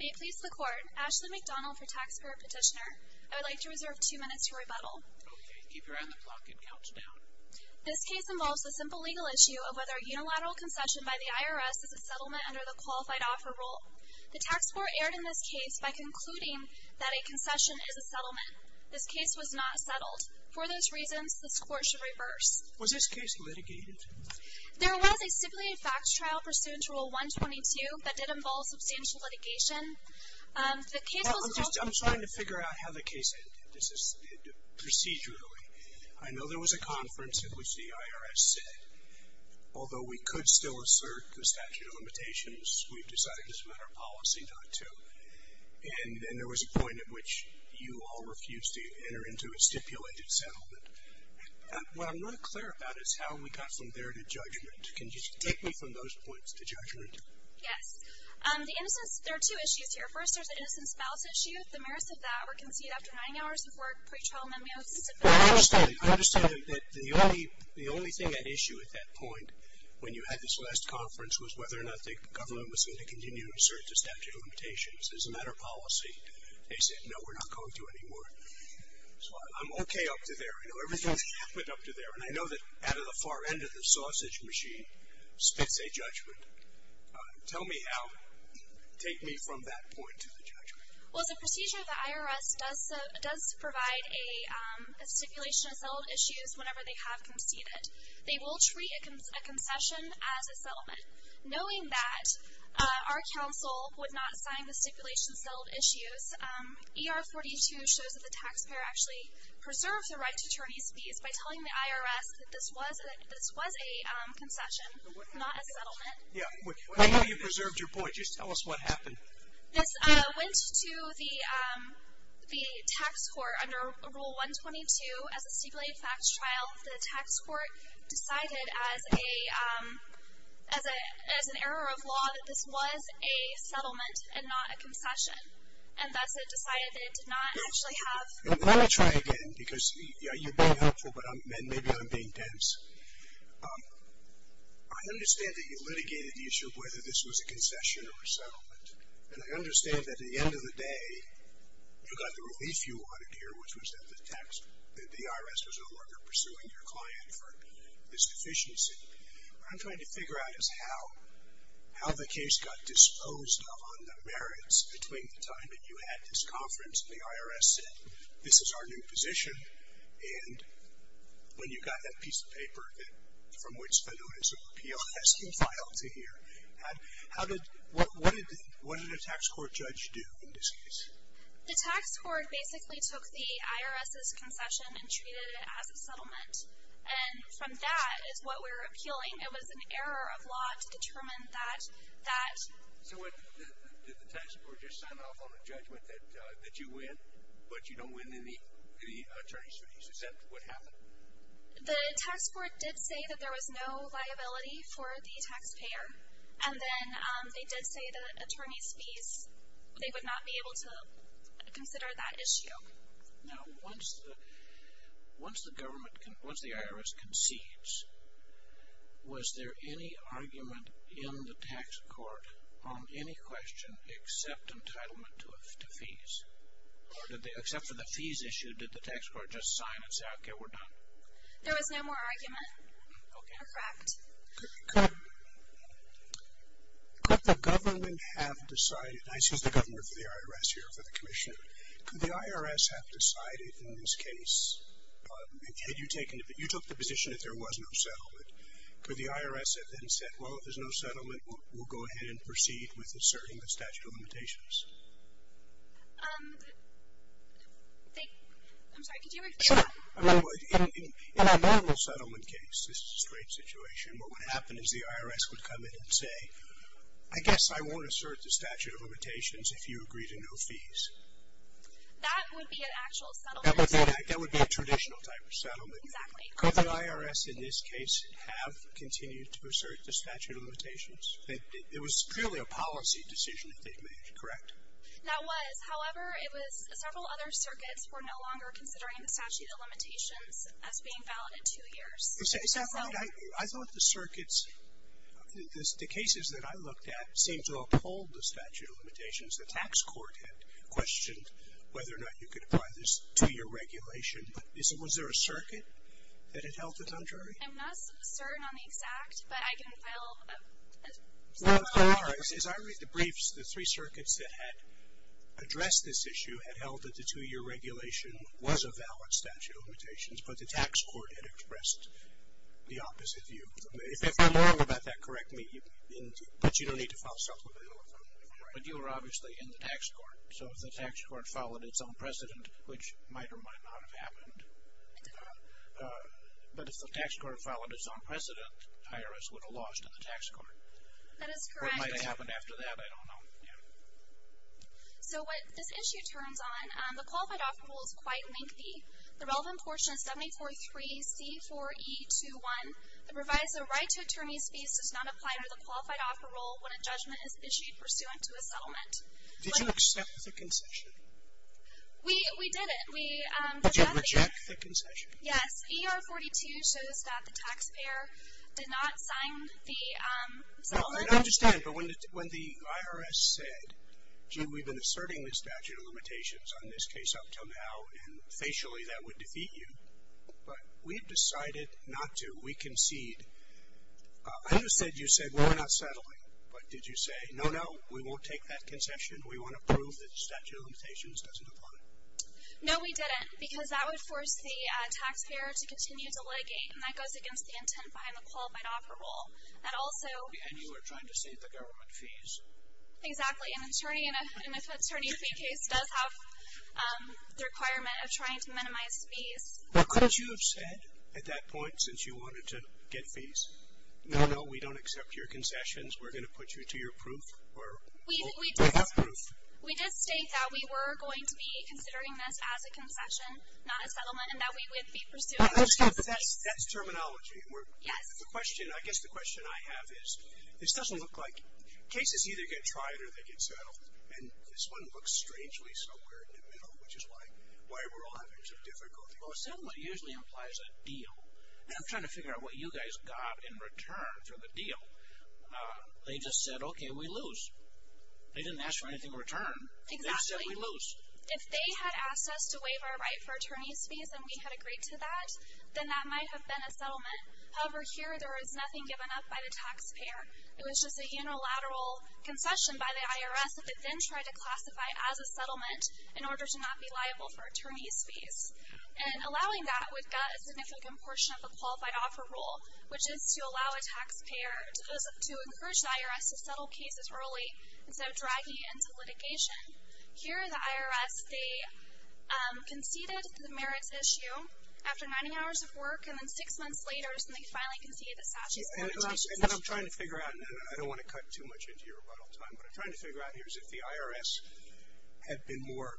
May it please the court, Ashley McDonald for Taxpayer Petitioner. I would like to reserve two minutes to rebuttal. Okay, keep your eye on the clock, it counts down. This case involves the simple legal issue of whether a unilateral concession by the IRS is a settlement under the Qualified Offer Rule. The tax court erred in this case by concluding that a concession is a settlement. This case was not settled. For those reasons, this court should reverse. Was this case litigated? There was a stipulated facts trial pursuant to Rule 122 that did involve substantial litigation. I'm trying to figure out how the case ended procedurally. I know there was a conference in which the IRS said, although we could still assert the statute of limitations, we've decided it's a matter of policy not to. And there was a point at which you all refused to enter into a stipulated settlement. What I'm not clear about is how we got from there to judgment. Can you take me from those points to judgment? Yes. The innocence, there are two issues here. First, there's the innocence balance issue. The mayor said that we're conceded after nine hours before a pretrial memo was submitted. I understand. I understand that the only thing at issue at that point, when you had this last conference, was whether or not the government was going to continue to assert the statute of limitations as a matter of policy. They said, no, we're not going to anymore. I'm okay up to there. I know everything that happened up to there, and I know that out of the far end of the sausage machine spits a judgment. Tell me how. Take me from that point to the judgment. Well, the procedure of the IRS does provide a stipulation of settlement issues whenever they have conceded. Knowing that our council would not sign the stipulation of settled issues, ER 42 shows that the taxpayer actually preserves the right to attorney's fees by telling the IRS that this was a concession, not a settlement. I know you preserved your point. Just tell us what happened. This went to the tax court under Rule 122 as a stipulated facts trial. The tax court decided as an error of law that this was a settlement and not a concession, and thus it decided that it did not actually have. Let me try again, because you're being helpful, but maybe I'm being dense. I understand that you litigated the issue of whether this was a concession or a settlement, and I understand that at the end of the day, you got the relief you wanted here, which was that the IRS was no longer pursuing your client for this deficiency. What I'm trying to figure out is how the case got disposed of on the merits between the time that you had this conference and the IRS said, this is our new position, and when you got that piece of paper from which the Notice of Appeal has compiled to here, what did a tax court judge do in this case? The tax court basically took the IRS's concession and treated it as a settlement, and from that is what we're appealing. It was an error of law to determine that. So did the tax court just sign off on a judgment that you win, but you don't win any attorney's fees? Is that what happened? The tax court did say that there was no liability for the taxpayer, and then they did say that attorney's fees, they would not be able to consider that issue. Now, once the IRS concedes, was there any argument in the tax court on any question except entitlement to fees? Except for the fees issue, did the tax court just sign and say, okay, we're done? There was no more argument. Okay. Mr. Kraft? Could the government have decided, and I see the governor for the IRS here for the commissioner, could the IRS have decided in this case, had you taken the position that there was no settlement, could the IRS have then said, well, if there's no settlement, we'll go ahead and proceed with asserting the statute of limitations? I'm sorry, could you repeat that? Sure. In a normal settlement case, this is a straight situation, what would happen is the IRS would come in and say, I guess I won't assert the statute of limitations if you agree to no fees. That would be an actual settlement? That would be a traditional type of settlement. Exactly. Could the IRS in this case have continued to assert the statute of limitations? It was purely a policy decision that they made, correct? That was. However, it was several other circuits were no longer considering the statute of limitations as being valid in two years. Is that right? I thought the circuits, the cases that I looked at seemed to uphold the statute of limitations. The tax court had questioned whether or not you could apply this to your regulation. Was there a circuit that had held it on jury? I'm not certain on the exact, but I can file a... The circuit that expressed this issue had held that the two-year regulation was a valid statute of limitations, but the tax court had expressed the opposite view. If I'm wrong about that, correct me, but you don't need to file a settlement. But you were obviously in the tax court, so if the tax court followed its own precedent, which might or might not have happened, but if the tax court followed its own precedent, the IRS would have lost in the tax court. That is correct. It might have happened after that. I don't know. So what this issue turns on, the qualified offer rule is quite lengthy. The relevant portion is 743C4E21. The revised right to attorney's fees does not apply under the qualified offer rule when a judgment is issued pursuant to a settlement. Did you accept the concession? We did it. But you rejected the concession. Yes. ER 42 shows that the taxpayer did not sign the settlement. I understand, but when the IRS said, gee, we've been asserting the statute of limitations on this case up until now, and facially that would defeat you, but we've decided not to. We concede. I understand you said, well, we're not settling. But did you say, no, no, we won't take that concession. We want to prove that the statute of limitations doesn't apply? No, we didn't, because that would force the taxpayer to continue to legate, and that goes against the intent behind the qualified offer rule. And you were trying to save the government fees. Exactly. An attorney in a fee case does have the requirement of trying to minimize fees. Could you have said at that point, since you wanted to get fees, no, no, we don't accept your concessions, we're going to put you to your proof? We did state that we were going to be considering this as a concession, not a settlement, and that we would be pursuing it. That's terminology. Yes. The question, I guess the question I have is, this doesn't look like, cases either get tried or they get settled, and this one looks strangely somewhere in the middle, which is why we're all having some difficulty. Well, a settlement usually implies a deal. And I'm trying to figure out what you guys got in return for the deal. They just said, okay, we lose. They didn't ask for anything in return. They said we lose. Exactly. If they had asked us to waive our right for attorney's fees and we had agreed to that, then that might have been a settlement. However, here there was nothing given up by the taxpayer. It was just a unilateral concession by the IRS that they then tried to classify as a settlement in order to not be liable for attorney's fees. And allowing that would get a significant portion of the qualified offer rule, which is to allow a taxpayer to encourage the IRS to settle cases early instead of dragging it into litigation. Here the IRS, they conceded the merits issue after 90 hours of work, and then six months later they finally conceded the statute of limitations. And what I'm trying to figure out, and I don't want to cut too much into your rebuttal time, but what I'm trying to figure out here is if the IRS had been more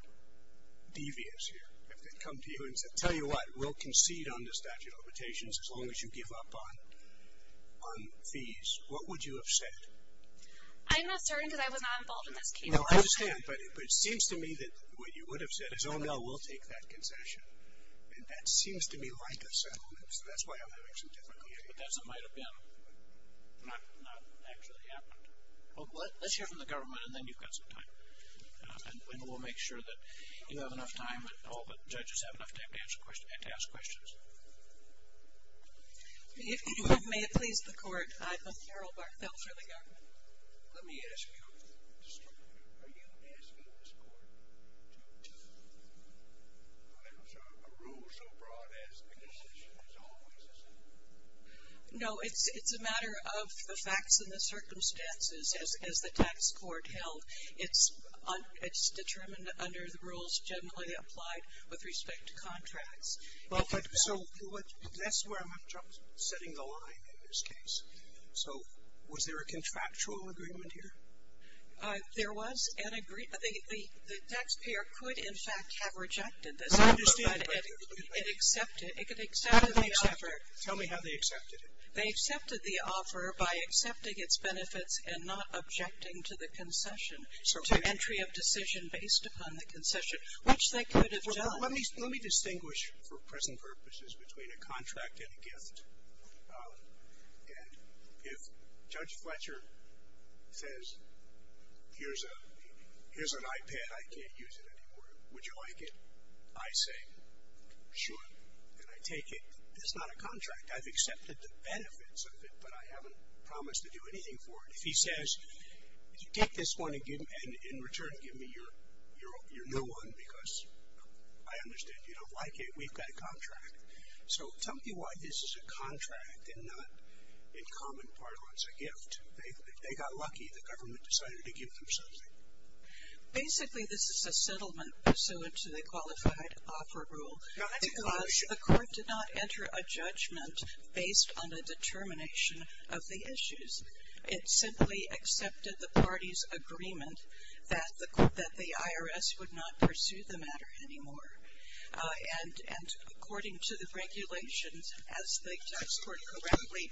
devious here, if they'd come to you and said, tell you what, we'll concede on the statute of limitations as long as you give up on fees, what would you have said? I'm not certain because I was not involved in this case. No, I understand. But it seems to me that what you would have said is, oh, no, we'll take that concession. And that seems to me like a settlement. So that's why I'm having some difficulty here. But that's what might have been. Not actually happened. Well, let's hear from the government, and then you've got some time. And we'll make sure that you have enough time and all the judges have enough time to answer questions and to ask questions. If you would, may it please the Court, I'm Carol Barthelt for the government. Let me ask you, are you asking this Court to do what? There's a rule so broad as the concession is always the same. No, it's a matter of the facts and the circumstances, as the tax court held. It's determined under the rules generally applied with respect to contracts. So that's where I'm having trouble setting the line in this case. So was there a contractual agreement here? There was an agreement. The taxpayer could, in fact, have rejected this. I understand. But it accepted the offer. Tell me how they accepted it. They accepted the offer by accepting its benefits and not objecting to the concession, to entry of decision based upon the concession, which they could have done. Let me distinguish, for present purposes, between a contract and a gift. And if Judge Fletcher says, here's an iPad. I can't use it anymore. Would you like it? I say, sure. And I take it. It's not a contract. I've accepted the benefits of it, but I haven't promised to do anything for it. If he says, take this one and in return give me your new one, because I understand you don't like it. We've got a contract. So tell me why this is a contract and not, in common parlance, a gift. If they got lucky, the government decided to give them something. Basically, this is a settlement pursuant to the qualified offer rule. Now, that's a good question. Because the court did not enter a judgment based on the determination of the issues. It simply accepted the party's agreement that the IRS would not pursue the matter anymore. And according to the regulations, as the tax court correctly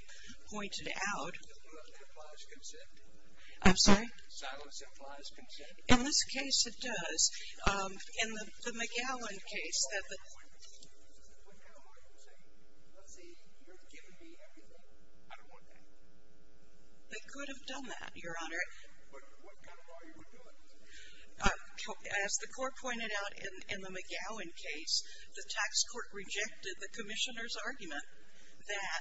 pointed out. Silence implies consent. I'm sorry? Silence implies consent. In this case, it does. In the McGowan case. What kind of argument is this? What kind of argument is this? Let's see. You're giving me everything. I don't want that. They could have done that, Your Honor. What kind of argument is this? As the court pointed out in the McGowan case, the tax court rejected the commissioner's argument that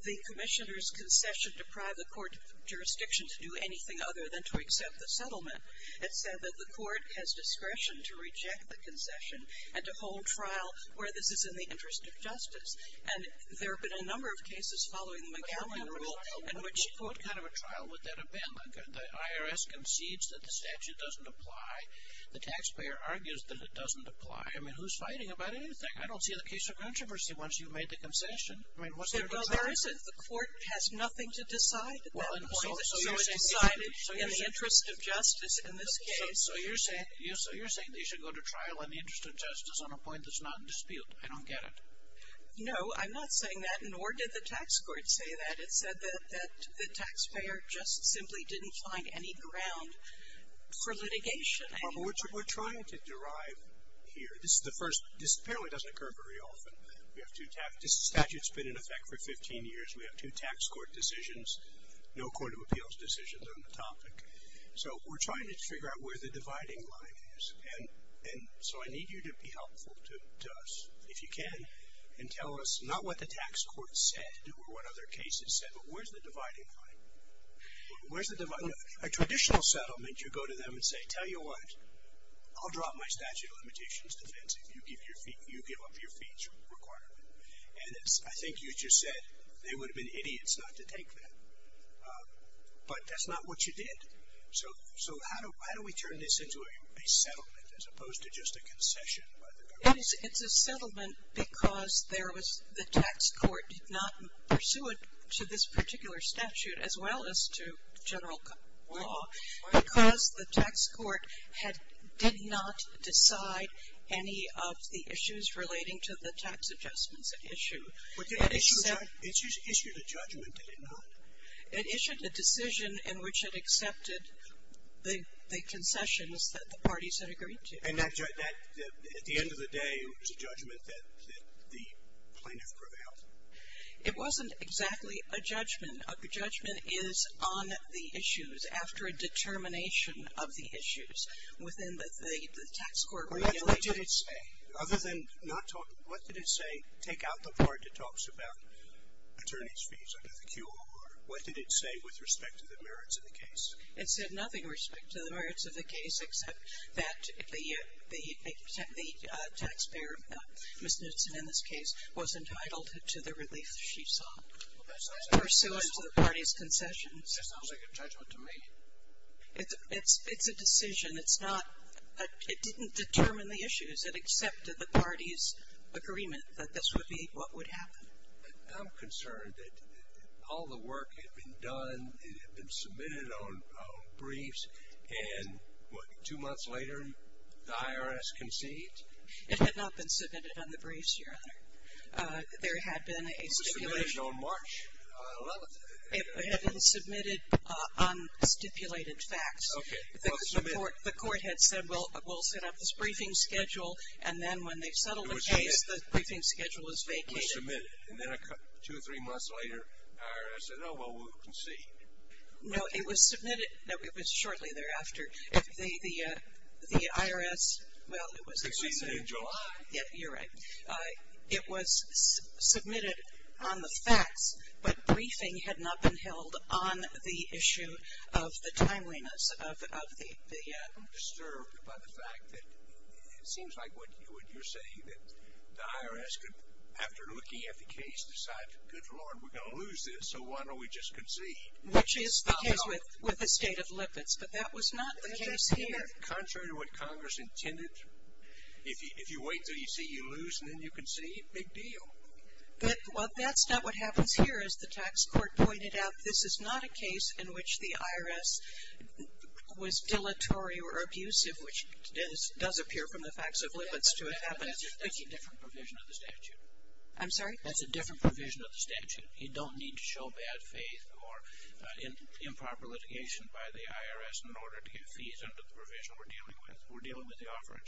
the commissioner's concession deprived the court of jurisdiction to do anything other than to accept the settlement. It said that the court has discretion to reject the concession and to hold trial where this is in the interest of justice. And there have been a number of cases following the McGowan rule in which. What kind of a trial would that have been? The IRS concedes that the statute doesn't apply. The taxpayer argues that it doesn't apply. I mean, who's fighting about anything? I don't see the case of controversy once you've made the concession. I mean, what's there to talk about? There isn't. The court has nothing to decide at that point. So it's decided in the interest of justice in this case. So you're saying they should go to trial in the interest of justice on a point that's not in dispute. I don't get it. No, I'm not saying that, nor did the tax court say that. It said that the taxpayer just simply didn't find any ground for litigation. Barbara, what we're trying to derive here. This apparently doesn't occur very often. This statute's been in effect for 15 years. We have two tax court decisions, no court of appeals decisions on the topic. So we're trying to figure out where the dividing line is. And so I need you to be helpful to us, if you can, and tell us not what the tax court said or what other cases said, but where's the dividing line? Where's the dividing line? A traditional settlement, you go to them and say, tell you what, I'll drop my statute of limitations defense if you give up your fees requirement. And I think you just said they would have been idiots not to take that. But that's not what you did. So how do we turn this into a settlement as opposed to just a concession? It's a settlement because there was the tax court did not pursue it to this particular statute as well as to general law. Why? Because the tax court did not decide any of the issues relating to the tax adjustments it issued. It issued a judgment, did it not? It issued a decision in which it accepted the concessions that the parties had agreed to. And at the end of the day, it was a judgment that the plaintiff prevailed. It wasn't exactly a judgment. A judgment is on the issues after a determination of the issues within the tax court regulations. What did it say? Other than not talking, what did it say? Take out the part that talks about attorney's fees under the QOR. What did it say with respect to the merits of the case? It said nothing with respect to the merits of the case except that the taxpayer, Ms. Knudson in this case, was entitled to the relief she sought pursuant to the party's concessions. That sounds like a judgment to me. It's a decision. It's not – it didn't determine the issues. It accepted the party's agreement that this would be what would happen. I'm concerned that all the work had been done, it had been submitted on briefs, and what, two months later, the IRS conceded? It had not been submitted on the briefs, Your Honor. There had been a stipulation. It was submitted on March 11th. It had been submitted on stipulated facts. Okay. The court had said, well, we'll set up this briefing schedule, and then when they settled the case, the briefing schedule was vacated. It was submitted, and then two or three months later, the IRS said, oh, well, we'll concede. No, it was submitted – no, it was shortly thereafter. The IRS – well, it was – Conceded in July. Yeah, you're right. It was submitted on the facts, but briefing had not been held on the issue of the timeliness of the – I'm disturbed by the fact that it seems like what you're saying, that the IRS could, after looking at the case, decide, good Lord, we're going to lose this, so why don't we just concede? Which is the case with the state of lipids, but that was not the case here. Contrary to what Congress intended, if you wait until you see you lose, and then you concede, big deal. Well, that's not what happens here, as the tax court pointed out. This is not a case in which the IRS was dilatory or abusive, which does appear from the facts of lipids to have happened. That's a different provision of the statute. I'm sorry? That's a different provision of the statute. You don't need to show bad faith or improper litigation by the IRS in order to get fees under the provision we're dealing with. We're dealing with the offer of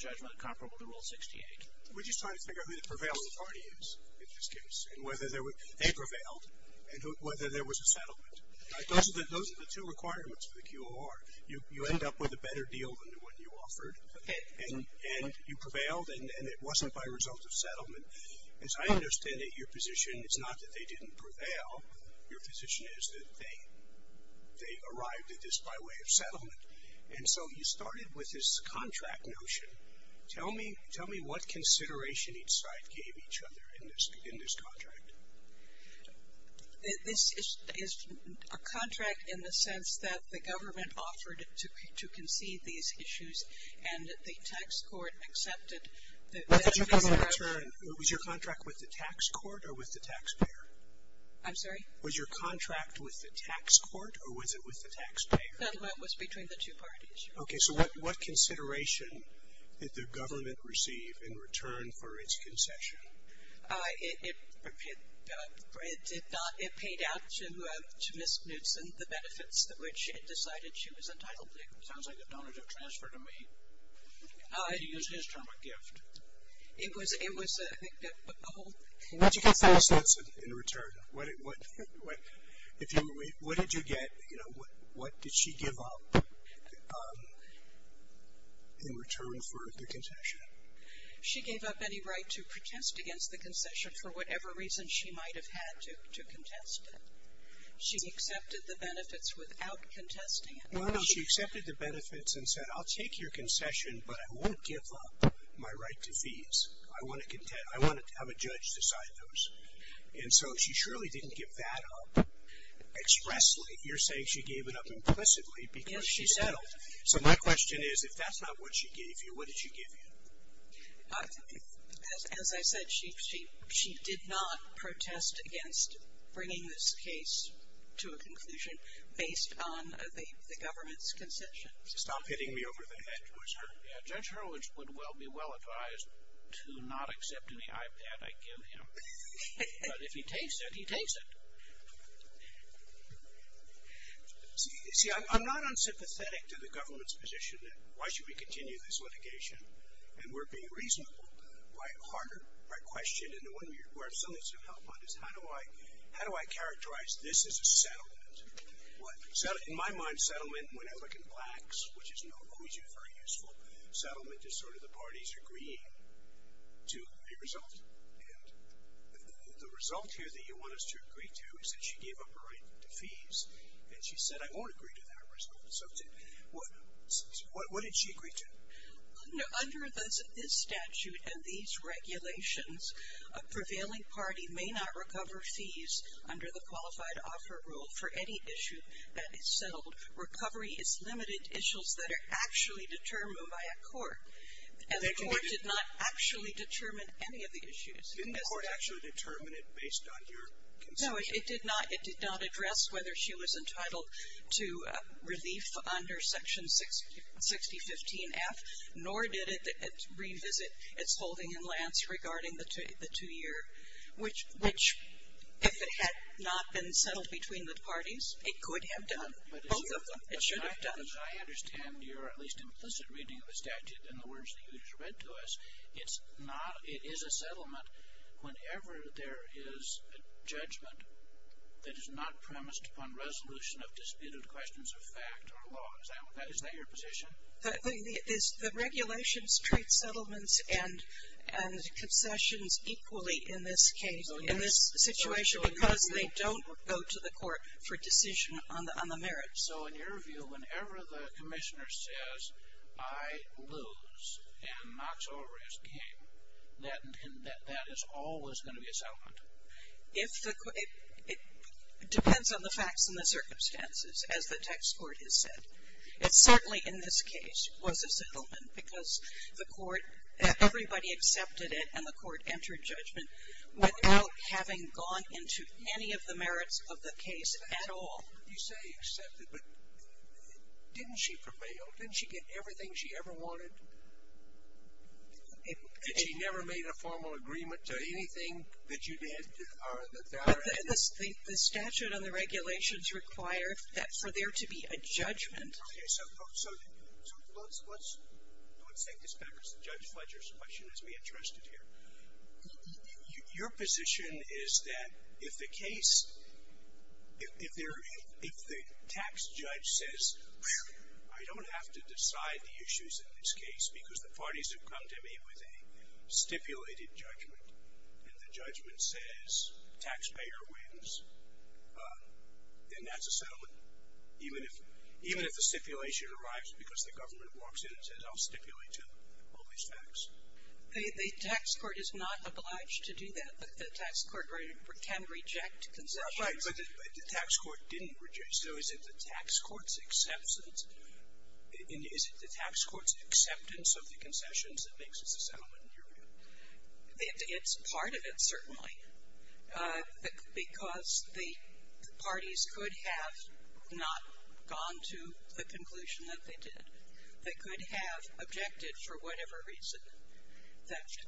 judgment comparable to Rule 68. We're just trying to figure out who the prevailing party is in this case, and whether they prevailed, and whether there was a settlement. Those are the two requirements for the QOR. You end up with a better deal than the one you offered, and you prevailed, and it wasn't by result of settlement. As I understand it, your position is not that they didn't prevail. Your position is that they arrived at this by way of settlement. And so you started with this contract notion. Tell me what consideration each side gave each other in this contract. This is a contract in the sense that the government offered to concede these issues, and the tax court accepted that it was a contract. Was your contract with the tax court or with the taxpayer? I'm sorry? Was your contract with the tax court or was it with the taxpayer? It was between the two parties. Okay, so what consideration did the government receive in return for its concession? It paid out to Ms. Knudsen the benefits which it decided she was entitled to. It sounds like a donative transfer to me. You used his term of gift. It was a whole thing. What did you get in return? What did you get? You know, what did she give up in return for the concession? She gave up any right to protest against the concession for whatever reason she might have had to contest it. She accepted the benefits without contesting it. No, no, she accepted the benefits and said, I'll take your concession, but I won't give up my right to fees. I want to have a judge decide those. And so she surely didn't give that up expressly. You're saying she gave it up implicitly because she settled. So my question is, if that's not what she gave you, what did she give you? As I said, she did not protest against bringing this case to a conclusion based on the government's concession. Stop hitting me over the head. Judge Hurwitz would well be well advised to not accept any iPad I give him. But if he takes it, he takes it. See, I'm not unsympathetic to the government's position that why should we continue this litigation? And we're being reasonable. My question and the one where I still need some help on this, how do I characterize this as a settlement? In my mind, settlement, when I look in plaques, which is no longer very useful, settlement is sort of the parties agreeing to a result. And the result here that you want us to agree to is that she gave up her right to fees, and she said, I won't agree to that result. So what did she agree to? Under this statute and these regulations, a prevailing party may not recover fees under the qualified offer rule for any issue that is settled. Recovery is limited issues that are actually determined by a court. And the court did not actually determine any of the issues. Didn't the court actually determine it based on your concession? No, it did not. It did not address whether she was entitled to relief under Section 6015F, nor did it revisit its holding in Lance regarding the two-year, which if it had not been settled between the parties, it could have done. Both of them. It should have done. I understand your at least implicit reading of the statute in the words that you just read to us. It is a settlement whenever there is a judgment that is not premised upon resolution of disputed questions of fact or law. Is that your position? The regulations treat settlements and concessions equally in this case, in this situation, because they don't go to the court for decision on the merits. So, in your view, whenever the commissioner says, I lose and Knox O'Rourke is king, that is always going to be a settlement? It depends on the facts and the circumstances, as the text court has said. It certainly, in this case, was a settlement because the court, everybody accepted it and the court entered judgment without having gone into any of the merits of the case at all. You say accepted, but didn't she prevail? Didn't she get everything she ever wanted? And she never made a formal agreement to anything that you did? The statute and the regulations require that for there to be a judgment. Okay, so let's take this back to Judge Fletcher's question, as we addressed it here. Your position is that if the case, if the tax judge says, I don't have to decide the issues in this case because the parties have come to me with a stipulated judgment and the judgment says taxpayer wins, then that's a settlement? Even if the stipulation arrives because the government walks in and says, I'll stipulate to all these facts? The tax court is not obliged to do that, but the tax court can reject concessions. Right, but the tax court didn't reject, so is it the tax court's acceptance, is it the tax court's acceptance of the concessions that makes it a settlement in your view? It's part of it, certainly, because the parties could have not gone to the conclusion that they did. They could have objected for whatever reason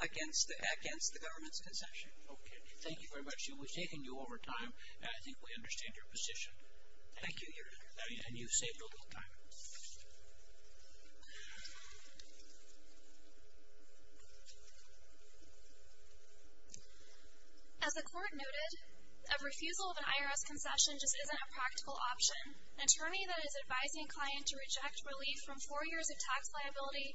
against the government's concession. Okay, thank you very much. We've taken you over time, and I think we understand your position. Thank you, Your Honor. And you've saved a little time. As the court noted, a refusal of an IRS concession just isn't a practical option. An attorney that is advising a client to reject relief from four years of tax liability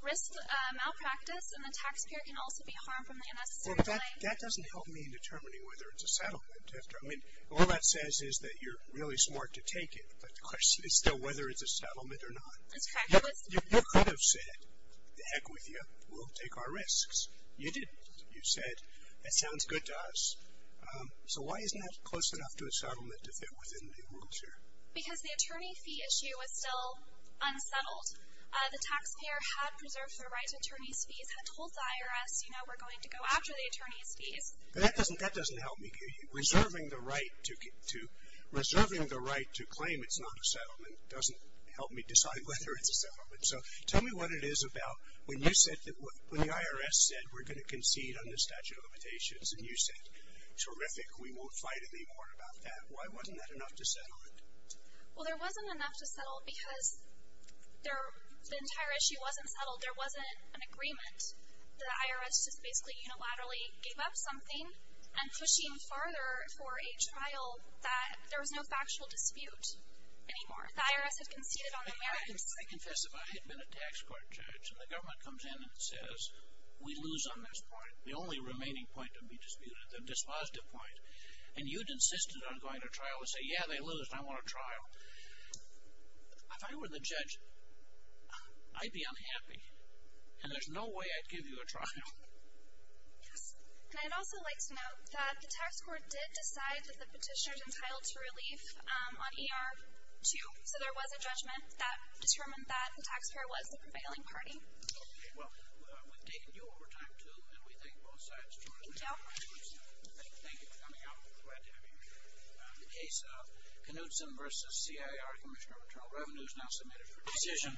risks malpractice, and the taxpayer can also be harmed from the unnecessary delay. Well, that doesn't help me in determining whether it's a settlement. I mean, all that says is that you're really smart to take it, but the question is still whether it's a settlement or not. That's correct. You could have said, to heck with you, we'll take our risks. You didn't. You said, that sounds good to us. So why isn't that close enough to a settlement if it was in the rules here? Because the attorney fee issue is still unsettled. The taxpayer had preserved their right to attorney's fees, had told the IRS, you know, we're going to go after the attorney's fees. That doesn't help me. Reserving the right to claim it's not a settlement doesn't help me decide whether it's a settlement. So tell me what it is about when the IRS said we're going to concede under statute of limitations, and you said, terrific, we won't fight anymore about that. Why wasn't that enough to settle it? Well, there wasn't enough to settle because the entire issue wasn't settled. There wasn't an agreement. The IRS just basically unilaterally gave up something and pushing farther for a trial that there was no factual dispute anymore. The IRS had conceded on the merits. I confess, if I had been a tax court judge and the government comes in and says, we lose on this point, the only remaining point to be disputed, the dispositive point, and you'd insisted on going to trial and say, yeah, they lose, I want a trial. If I were the judge, I'd be unhappy. And there's no way I'd give you a trial. Yes, and I'd also like to note that the tax court did decide that the petitioner's entitled to relief on ER 2. So there was a judgment that determined that the taxpayer was the prevailing party. Okay, well, we've taken you over time, too, and we thank both sides. Thank you. Thank you for coming out. We're glad to have you here. The case of Knudsen v. C.I.R., Commissioner of Internal Revenue, is now submitted for decision.